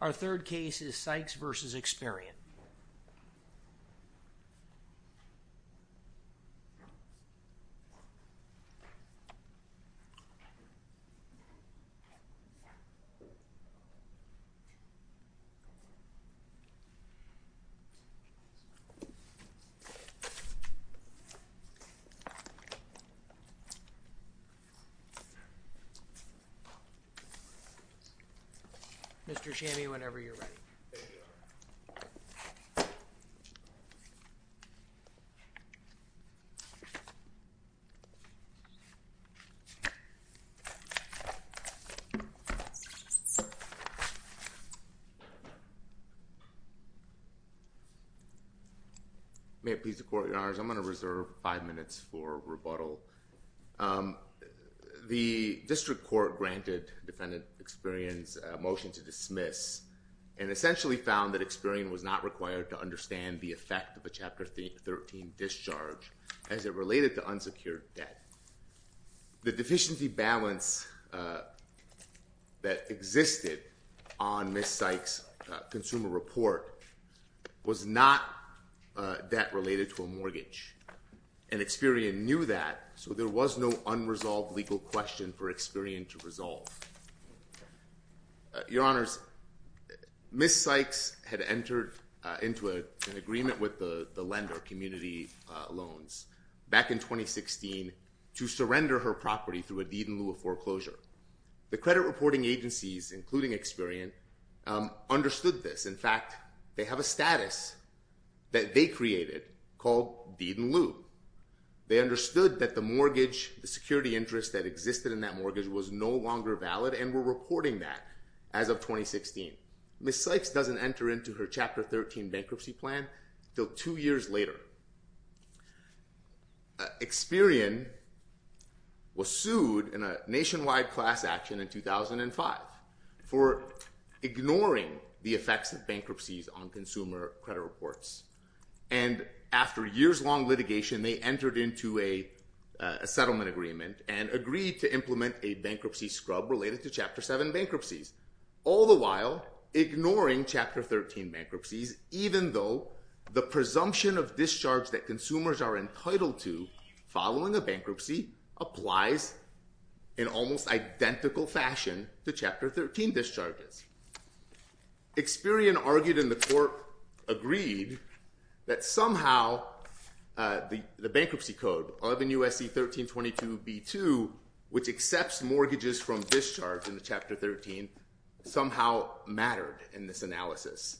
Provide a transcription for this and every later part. Our third case is Sykes v. Experian. Mr. Shammy, whenever you're ready. May it please the Court, Your Honors, I'm going to reserve five minutes for rebuttal. The District Court granted Defendant Experian's motion to dismiss and essentially found that Experian was not required to understand the effect of a Chapter 13 discharge as it related to unsecured debt. The deficiency balance that existed on Ms. Sykes' consumer report was not debt related to a mortgage, and Experian knew that, so there was no unresolved legal question for Experian to resolve. Your Honors, Ms. Sykes had entered into an agreement with the lender, Community Loans, back in 2016 to surrender her property through a deed in lieu of foreclosure. The credit reporting agencies, including Experian, understood this. In fact, they have a status that they created called deed in lieu. They understood that the mortgage, the security interest that existed in that mortgage, was no longer valid and were reporting that as of 2016. Ms. Sykes doesn't enter into her Chapter 13 bankruptcy plan until two years later. Experian was sued in a nationwide class action in 2005 for ignoring the effects of bankruptcies on consumer credit reports, and after years-long litigation, they entered into a settlement agreement and agreed to implement a bankruptcy scrub related to Chapter 7 bankruptcies, all the while ignoring Chapter 13 bankruptcies, even though the presumption of discharge that consumers are entitled to following a bankruptcy applies in almost identical fashion to Chapter 13 discharges. Experian argued in the court agreed that somehow the bankruptcy code, 11 U.S.C. 1322b2, which accepts mortgages from discharge in the Chapter 13, somehow mattered in this analysis.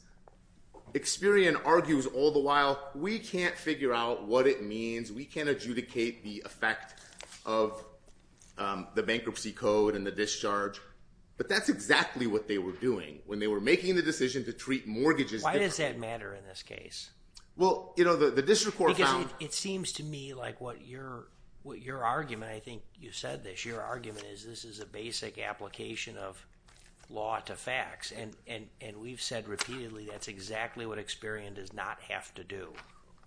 Experian argues all the while, we can't figure out what it means, we can't adjudicate the effect of the bankruptcy code and the discharge, but that's exactly what they were doing when they were making the decision to treat mortgages- Why does that matter in this case? Well, you know, the district court found- It seems to me like what your argument, I think you said this, your argument is this is a basic application of law to facts, and we've said repeatedly that's exactly what Experian does not have to do.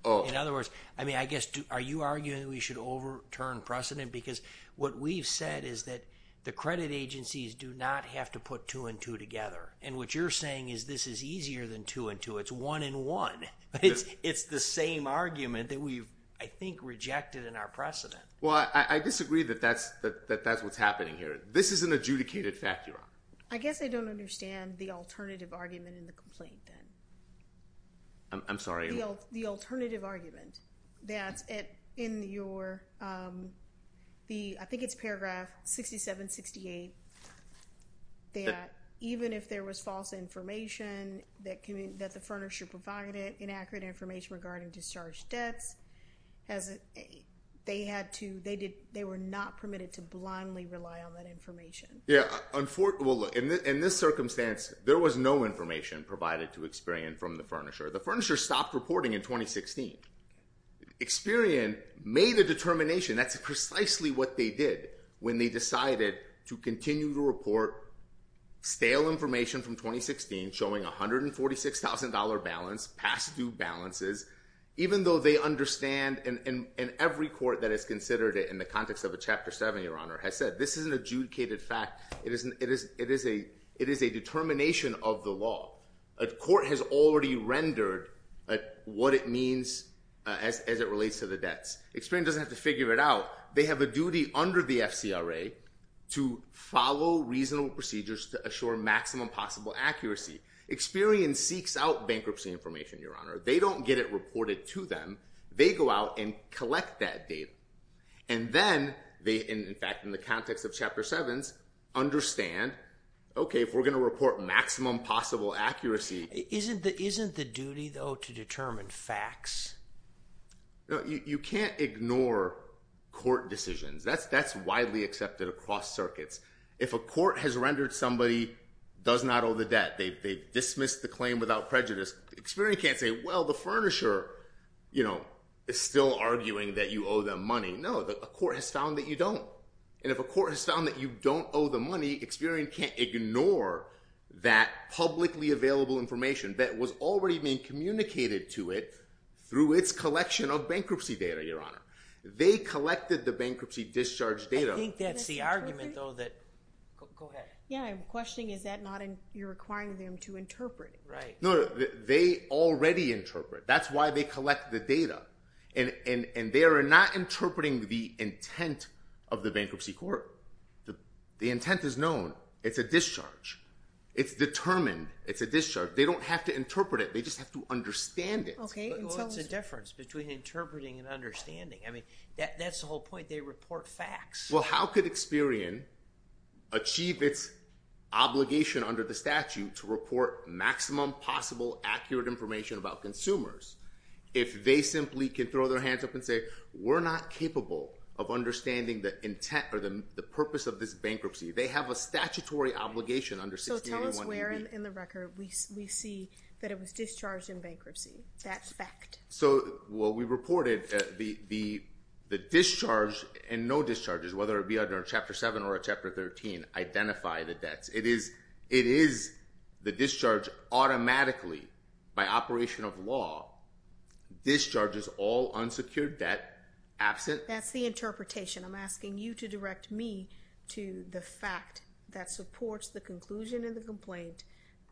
In other words, I mean, I guess, are you arguing that we should overturn precedent? Because what we've said is that the credit agencies do not have to put two and two together, and what you're saying is this is easier than two and two, it's one and one. It's the same argument that we've, I think, rejected in our precedent. Well, I disagree that that's what's happening here. This is an adjudicated fact, Your Honor. I guess I don't understand the alternative argument in the complaint then. I'm sorry? The alternative argument that's in your, I think it's paragraph 6768, that even if there was false information that the furnisher provided, inaccurate information regarding discharge debts, they had to, they were not permitted to blindly rely on that information. Yeah. Well, in this circumstance, there was no information provided to Experian from the furnisher. The furnisher stopped reporting in 2016. Experian made a determination, that's precisely what they did when they decided to continue to report stale information from 2016, showing $146,000 balance, past due balances, even though they understand, and every court that has considered it in the context of a Chapter 7, Your Honor, has said, this is an adjudicated fact. It is a determination of the law. Court has already rendered what it means as it relates to the debts. Experian doesn't have to figure it out. They have a duty under the FCRA to follow reasonable procedures to assure maximum possible accuracy. Experian seeks out bankruptcy information, Your Honor. They don't get it reported to them. They go out and collect that data. And then, in fact, in the context of Chapter 7s, understand, okay, if we're going to report maximum possible accuracy. Isn't the duty, though, to determine facts? You can't ignore court decisions. That's widely accepted across circuits. If a court has rendered somebody does not owe the debt, they've dismissed the claim without prejudice, Experian can't say, well, the furnisher is still arguing that you owe them money. No, a court has found that you don't. And if a court has found that you don't owe the money, Experian can't ignore that publicly available information that was already being communicated to it through its collection of bankruptcy data, Your Honor. They collected the bankruptcy discharge data. I think that's the argument, though, that, go ahead. Yeah, I'm questioning, is that not, you're requiring them to interpret it? Right. No, they already interpret. That's why they collect the data. And they are not interpreting the intent of the bankruptcy court. The intent is known. It's a discharge. It's determined. It's a discharge. They don't have to interpret it. They just have to understand it. Okay. Well, what's the difference between interpreting and understanding? I mean, that's the whole point. They report facts. Well, how could Experian achieve its obligation under the statute to report maximum possible accurate information about consumers if they simply can throw their hands up and say, we're not capable of understanding the intent or the purpose of this bankruptcy? They have a statutory obligation under 1681 AB. Tell us where in the record we see that it was discharged in bankruptcy. That fact. So, well, we reported the discharge and no discharges, whether it be under Chapter 7 or Chapter 13, identify the debts. It is the discharge automatically by operation of law, discharges all unsecured debt absent. That's the interpretation. I'm asking you to direct me to the fact that supports the conclusion in the complaint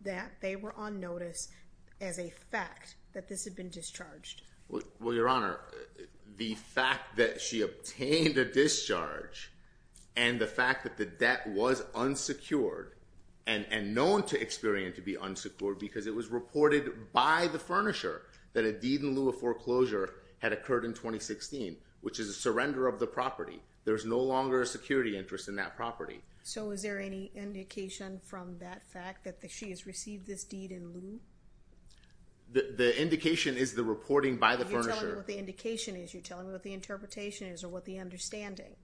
that they were on notice as a fact that this had been discharged. Well, your Honor, the fact that she obtained a discharge and the fact that the debt was unsecured and known to Experian to be unsecured because it was reported by the furnisher that a deed in lieu of foreclosure had occurred in 2016, which is a surrender of the property. There's no longer a security interest in that property. So is there any indication from that fact that she has received this deed in lieu? The indication is the reporting by the furnisher. You're telling me what the indication is. You're telling me what the interpretation is or what the understanding.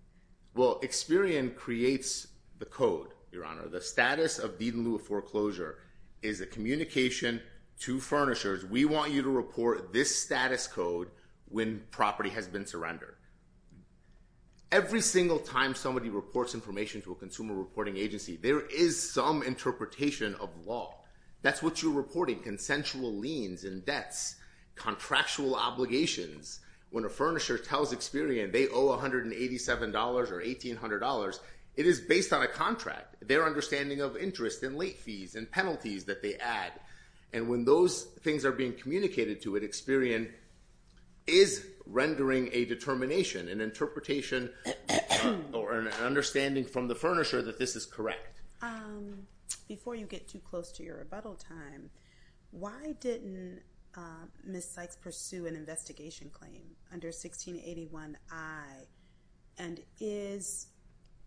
Well, Experian creates the code, your Honor. The status of deed in lieu of foreclosure is a communication to furnishers. We want you to report this status code when property has been surrendered. Every single time somebody reports information to a consumer reporting agency, there is some interpretation of law. That's what you're reporting, consensual liens and debts, contractual obligations. When a furnisher tells Experian they owe $187 or $1,800, it is based on a contract, their understanding of interest and late fees and penalties that they add. And when those things are being communicated to it, Experian is rendering a determination, an interpretation or an understanding from the furnisher that this is correct. Before you get too close to your rebuttal time, why didn't Ms. Sykes pursue an investigation claim under 1681I? And is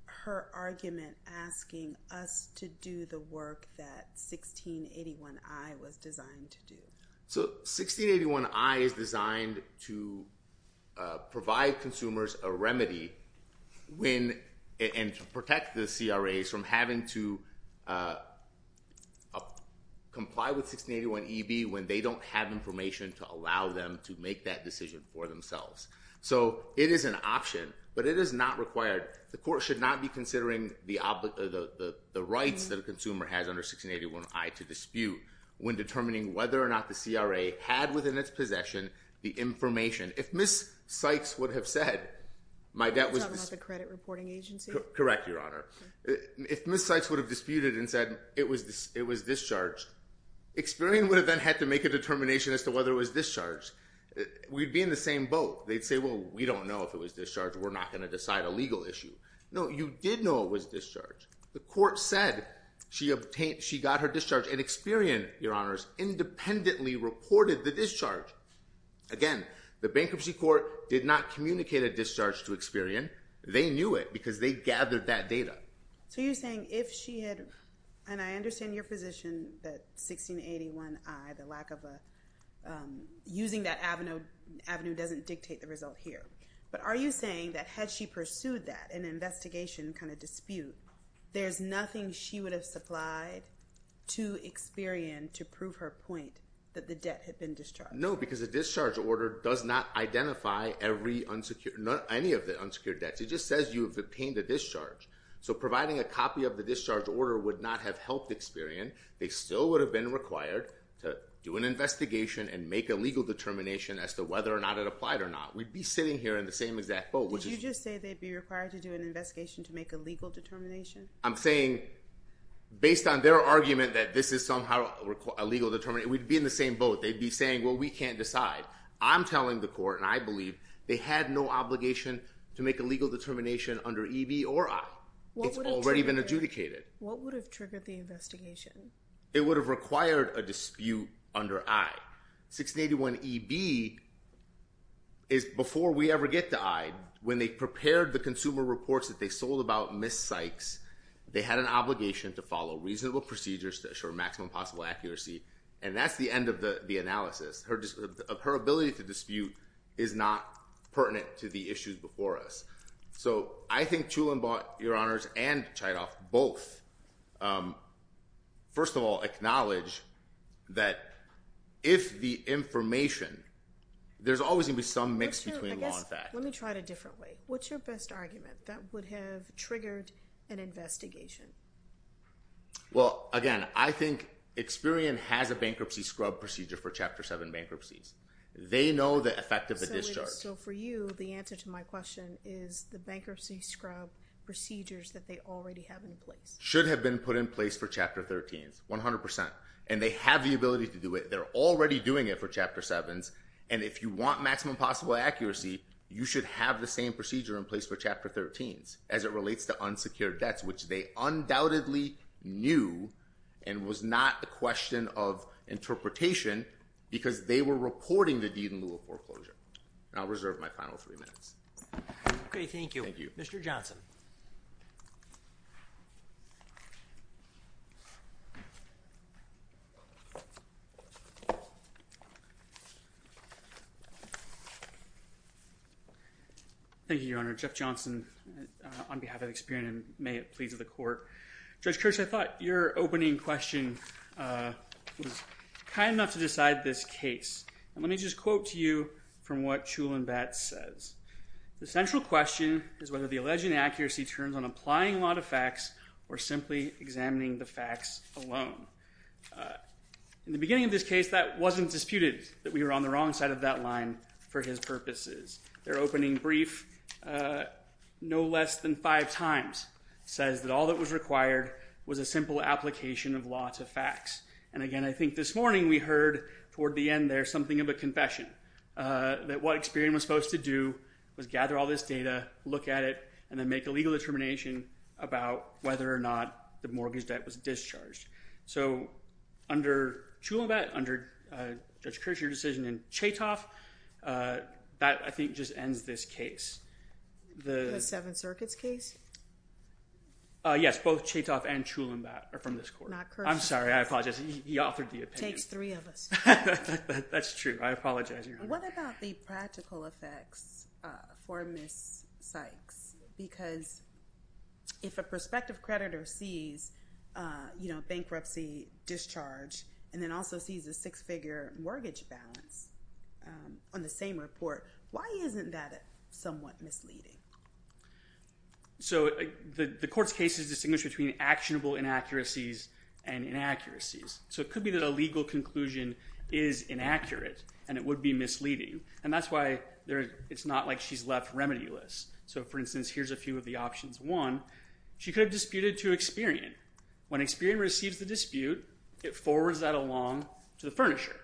her argument asking us to do the work that 1681I was designed to do? So 1681I is designed to provide consumers a remedy and to protect the CRAs from having to comply with 1681EB when they don't have information to allow them to make that decision for themselves. So it is an option, but it is not required. The court should not be considering the rights that a consumer has under 1681I to dispute when determining whether or not the CRA had within its possession the information. If Ms. Sykes would have said, my debt was... You're talking about the credit reporting agency? Correct, Your Honor. If Ms. Sykes would have disputed and said it was discharged, Experian would have then had to make a determination as to whether it was discharged. We'd be in the same boat. They'd say, well, we don't know if it was discharged, we're not going to decide a legal issue. No, you did know it was discharged. The court said she got her discharge and Experian, Your Honors, independently reported the discharge. Again, the bankruptcy court did not communicate a discharge to Experian. They knew it because they gathered that data. So you're saying if she had... And I understand your position that 1681I, the lack of a... Using that avenue doesn't dictate the result here. But are you saying that had she pursued that, an investigation kind of dispute, there's nothing she would have supplied to Experian to prove her point that the debt had been discharged? No, because the discharge order does not identify any of the unsecured debts. It just says you've obtained a discharge. So providing a copy of the discharge order would not have helped Experian. They still would have been required to do an investigation and make a legal determination as to whether or not it applied or not. We'd be sitting here in the same exact boat, which is... Did you just say they'd be required to do an investigation to make a legal determination? I'm saying based on their argument that this is somehow a legal determination, we'd be in the same boat. They'd be saying, well, we can't decide. I'm telling the court, and I believe they had no obligation to make a legal determination under EB or I. It's already been adjudicated. What would have triggered the investigation? It would have required a dispute under I. 1681 EB is before we ever get to I. When they prepared the consumer reports that they sold about Ms. Sykes, they had an obligation to follow reasonable procedures to assure maximum possible accuracy, and that's the end of the analysis. Her ability to dispute is not pertinent to the issues before us. So I think Chulainn bought, Your Honors, and Chytoff both, first of all, acknowledge that if the information... There's always going to be some mix between law and fact. Let me try it a different way. What's your best argument that would have triggered an investigation? Well, again, I think Experian has a bankruptcy scrub procedure for Chapter 7 bankruptcies. They know the effect of a discharge. So for you, the answer to my question is the bankruptcy scrub procedures that they already have in place. Should have been put in place for Chapter 13s, 100%. And they have the ability to do it. They're already doing it for Chapter 7s, and if you want maximum possible accuracy, you should have the same procedure in place for Chapter 13s as it relates to unsecured debts, which they undoubtedly knew and was not a question of interpretation because they were reporting the deed in lieu of foreclosure. And I'll reserve my final three minutes. Okay. Thank you. Thank you. Mr. Johnson. Thank you, Your Honor. Jeff Johnson on behalf of Experian, and may it please the Court. Judge Kirch, I thought your opening question was kind enough to decide this case. And let me just quote to you from what Chulainn Batts says. The central question is whether the alleged inaccuracy turns on applying a lot of facts or simply examining the facts alone. In the beginning of this case, that wasn't disputed, that we were on the wrong side of that line for his purposes. Their opening brief, no less than five times, says that all that was required was a simple application of lots of facts. And again, I think this morning we heard toward the end there something of a confession, that what Experian was supposed to do was gather all this data, look at it, and then make a legal determination about whether or not the mortgage debt was discharged. So under Chulainn Batts, under Judge Kirch, your decision in Chaytoff, that I think just ends this case. The Seventh Circuit's case? Yes, both Chaytoff and Chulainn Batts are from this court. Not Kirch. I'm sorry. I apologize. He authored the opinion. Takes three of us. That's true. I apologize, Your Honor. What about the practical effects for Ms. Sykes? Because if a prospective creditor sees bankruptcy, discharge, and then also sees a six-figure mortgage balance on the same report, why isn't that somewhat misleading? So the court's case is distinguished between actionable inaccuracies and inaccuracies. So it could be that a legal conclusion is inaccurate and it would be misleading. And that's why it's not like she's left remedy-less. So, for instance, here's a few of the options. One, she could have disputed to Experian. When Experian receives the dispute, it forwards that along to the furnisher.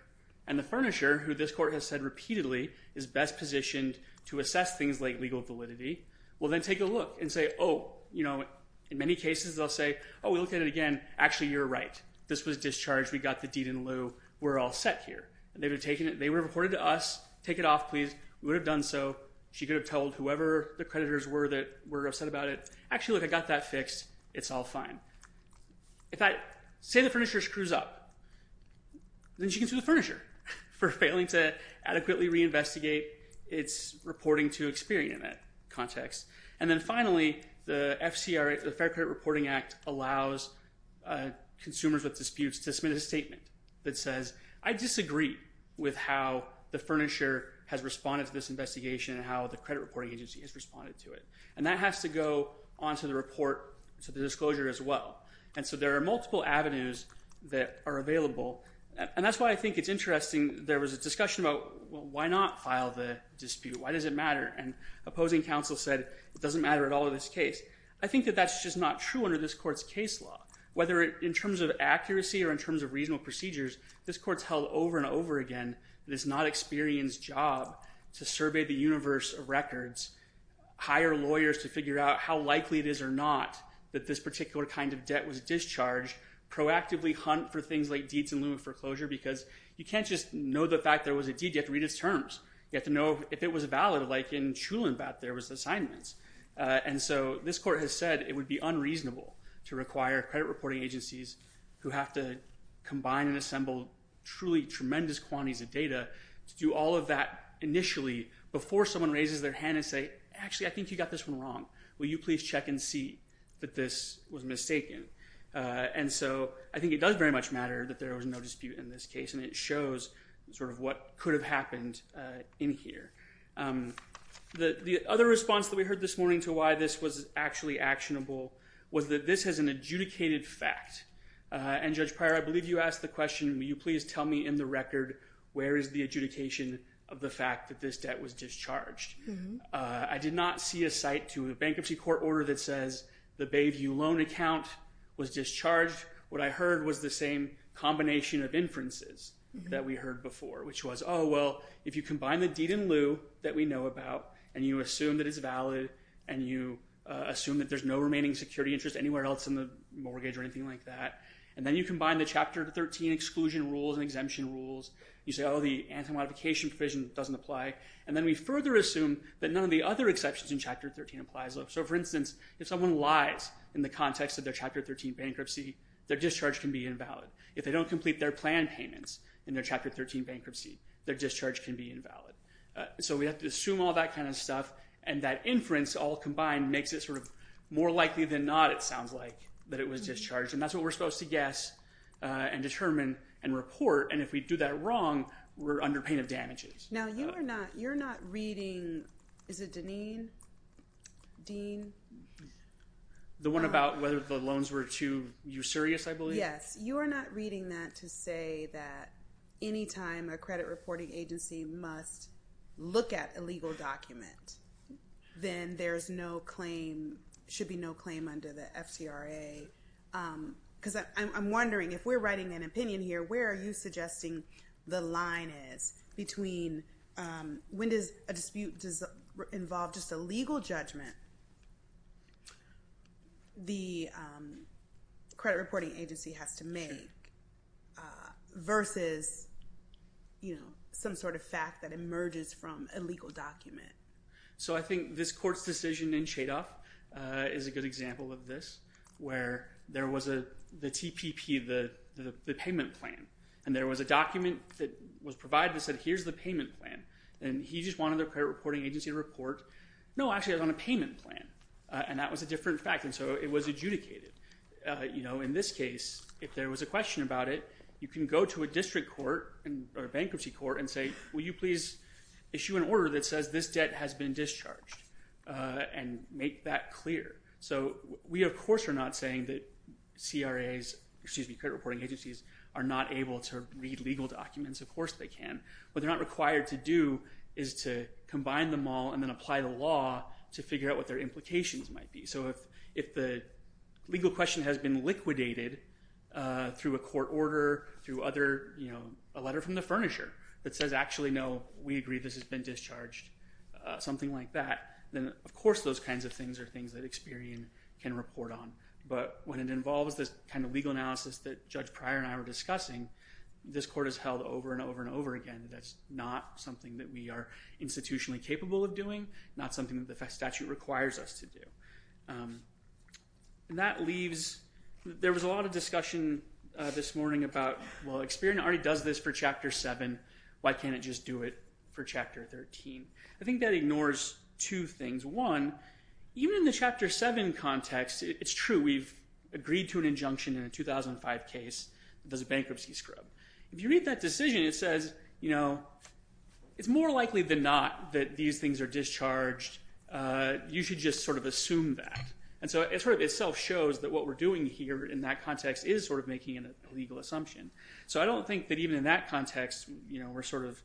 And the furnisher, who this court has said repeatedly is best positioned to assess things like legal validity, will then take a look and say, oh, you know, in many cases they'll say, oh, we looked at it again. Actually, you're right. This was discharged. We got the deed in lieu. We're all set here. And they would have reported to us, take it off, please. We would have done so. She could have told whoever the creditors were that were upset about it. Actually, look, I got that fixed. It's all fine. If I say the furnisher screws up, then she can sue the furnisher for failing to adequately reinvestigate its reporting to Experian in that context. And then finally, the FCRA, the Fair Credit Reporting Act, allows consumers with disputes to submit a statement that says, I disagree with how the furnisher has responded to this investigation and how the credit reporting agency has responded to it. And that has to go onto the report, to the disclosure as well. And so there are multiple avenues that are available. And that's why I think it's interesting there was a discussion about, well, why not file the dispute? Why does it matter? And opposing counsel said, it doesn't matter at all in this case. I think that that's just not true under this court's case law. Whether in terms of accuracy or in terms of reasonable procedures, this court's held over and over again that it's not Experian's job to survey the universe of records, hire lawyers to figure out how likely it is or not that this particular kind of debt was discharged, proactively hunt for things like deeds in lieu of foreclosure, because you can't just know the fact there was a deed. You have to read its terms. You have to know if it was valid. Like in Chulinbath, there was assignments. And so this court has said it would be unreasonable to require credit reporting agencies who have to combine and assemble truly tremendous quantities of data to do all of that initially before someone raises their hand and say, actually, I think you got this one wrong. Will you please check and see that this was mistaken? And so I think it does very much matter that there was no dispute in this case. And it shows sort of what could have happened in here. The other response that we heard this morning to why this was actually actionable was that this has an adjudicated fact. And Judge Pryor, I believe you asked the question, will you please tell me in the record where is the adjudication of the fact that this debt was discharged? I did not see a cite to a bankruptcy court order that says the Bayview loan account was discharged. What I heard was the same combination of inferences that we heard before, which was, oh, well, if you combine the deed in lieu that we know about and you assume that it's valid and you assume that there's no remaining security interest anywhere else in the mortgage or anything like that, and then you combine the Chapter 13 exclusion rules and exemption rules, you say, oh, the anti-modification provision doesn't apply, and then we further assume that none of the other exceptions in Chapter 13 applies. So for instance, if someone lies in the context of their Chapter 13 bankruptcy, their discharge can be invalid. If they don't complete their planned payments in their Chapter 13 bankruptcy, their discharge can be invalid. So we have to assume all that kind of stuff, and that inference all combined makes it sort of more likely than not, it sounds like, that it was discharged, and that's what we're supposed to guess and determine and report, and if we do that wrong, we're under pain of damages. Now you're not reading, is it Deneen, Dean? The one about whether the loans were too usurious, I believe? Yes, you are not reading that to say that any time a credit reporting agency must look at a legal document, then there's no claim, should be no claim under the FTRA, because I'm wondering, if we're writing an opinion here, where are you suggesting the line is between when does a dispute involve just a legal judgment the credit reporting agency has to make versus some sort of fact that emerges from a legal document? So I think this court's decision in Chadoff is a good example of this, where there was the TPP, the payment plan, and there was a document that was provided that said, here's the payment plan, and he just wanted the credit reporting agency to report, no, actually, I was on a payment plan, and that was a different fact, and so it was adjudicated. In this case, if there was a question about it, you can go to a district court or a bankruptcy court and say, will you please issue an order that says this debt has been discharged and make that clear. So we, of course, are not saying that CRAs, excuse me, credit reporting agencies, are not able to read legal documents. Of course they can. What they're not required to do is to combine them all and then apply the law to figure out what their implications might be. So if the legal question has been liquidated through a court order, through a letter from the furnisher that says, actually, no, we agree this has been discharged, something like that, then, of course, those kinds of things are things that Experian can report on, but when it involves this kind of legal analysis that Judge Pryor and I were discussing, this court has held over and over and over again that that's not something that we are institutionally capable of doing, not something that the statute requires us to do. That leaves, there was a lot of discussion this morning about, well, Experian already does this for Chapter 7, why can't it just do it for Chapter 13? I think that ignores two things. One, even in the Chapter 7 context, it's true, we've agreed to an injunction in a 2005 case that does a bankruptcy scrub. If you read that decision, it says, you know, it's more likely than not that these things are discharged. You should just sort of assume that. And so it sort of itself shows that what we're doing here in that context is sort of making an illegal assumption. So I don't think that even in that context, you know, we're sort of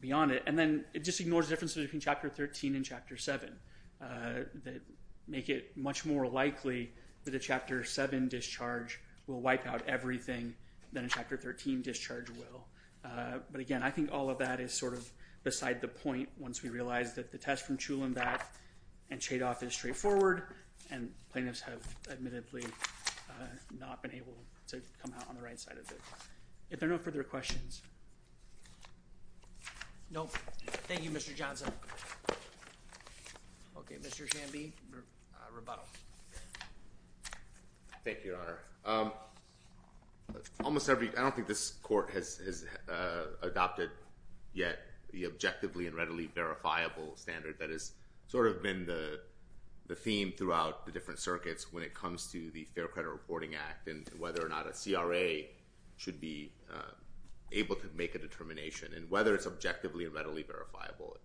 beyond it. And then it just ignores the difference between Chapter 13 and Chapter 7 that make it much more likely that a Chapter 7 discharge will wipe out everything than a Chapter 13 discharge will. But again, I think all of that is sort of beside the point once we realize that the test from Chulainn back and Chadoff is straightforward, and plaintiffs have admittedly not been able to come out on the right side of it. If there are no further questions. No. Thank you, Mr. Johnson. Okay. Mr. Shamby, rebuttal. Thank you, Your Honor. Almost every, I don't think this court has adopted yet the objectively and readily verifiable standard that has sort of been the theme throughout the different circuits when it comes to the determination and whether it's objectively and readily verifiable.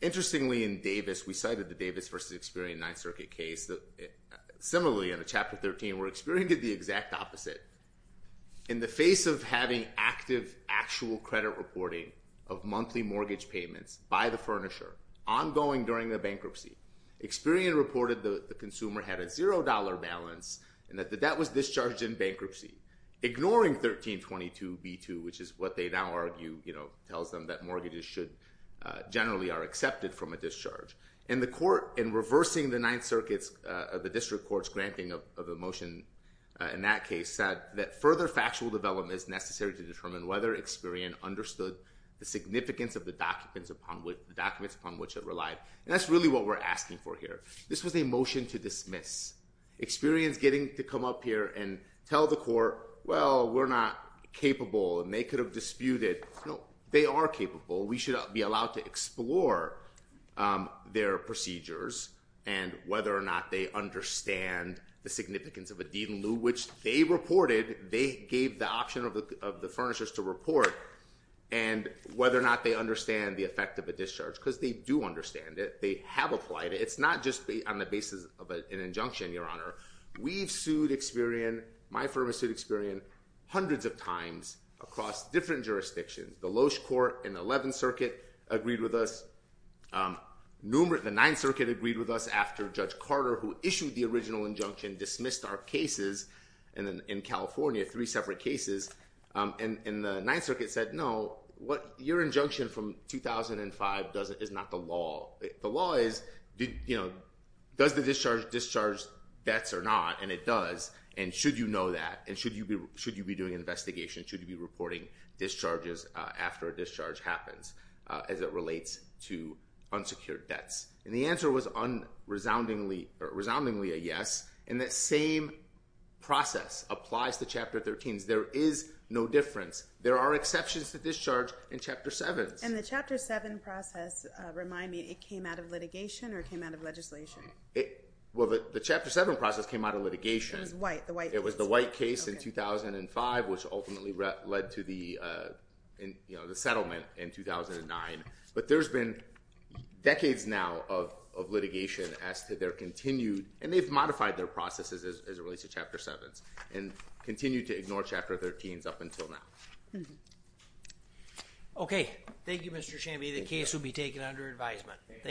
Interestingly in Davis, we cited the Davis versus Experian Ninth Circuit case, similarly in a Chapter 13 where Experian did the exact opposite. In the face of having active, actual credit reporting of monthly mortgage payments by the furnisher ongoing during the bankruptcy, Experian reported the consumer had a zero dollar balance and that the debt was discharged in bankruptcy, ignoring 1322b2, which is what they now argue, you know, tells them that mortgages should generally are accepted from a discharge. And the court in reversing the Ninth Circuit's, the district court's granting of a motion in that case said that further factual development is necessary to determine whether Experian understood the significance of the documents upon which it relied. And that's really what we're asking for here. This was a motion to dismiss. Experian's getting to come up here and tell the court, well, we're not capable and they could have disputed. No, they are capable. We should be allowed to explore their procedures and whether or not they understand the significance of a deed in lieu, which they reported, they gave the option of the furnishers to report and whether or not they understand the effect of a discharge, because they do understand it. They have applied it. It's not just on the basis of an injunction, Your Honor. We've sued Experian, my firm has sued Experian, hundreds of times across different jurisdictions. The Loesch Court in the Eleventh Circuit agreed with us, the Ninth Circuit agreed with us after Judge Carter, who issued the original injunction, dismissed our cases in California, three separate cases, and the Ninth Circuit said, no, your injunction from 2005 is not the law. The law is, does the discharge discharge debts or not, and it does, and should you know that, and should you be doing an investigation, should you be reporting discharges after a discharge happens, as it relates to unsecured debts? And the answer was resoundingly a yes, and that same process applies to Chapter 13s. There is no difference. There are exceptions to discharge in Chapter 7s. And the Chapter 7 process, remind me, it came out of litigation or it came out of legislation? Well, the Chapter 7 process came out of litigation. It was white, the white case. It was the white case in 2005, which ultimately led to the settlement in 2009, but there's been decades now of litigation as to their continued, and they've modified their processes as it relates to Chapter 7s, and continue to ignore Chapter 13s up until now. Okay. Thank you, Mr. Chambie, the case will be taken under advisement. Thank you.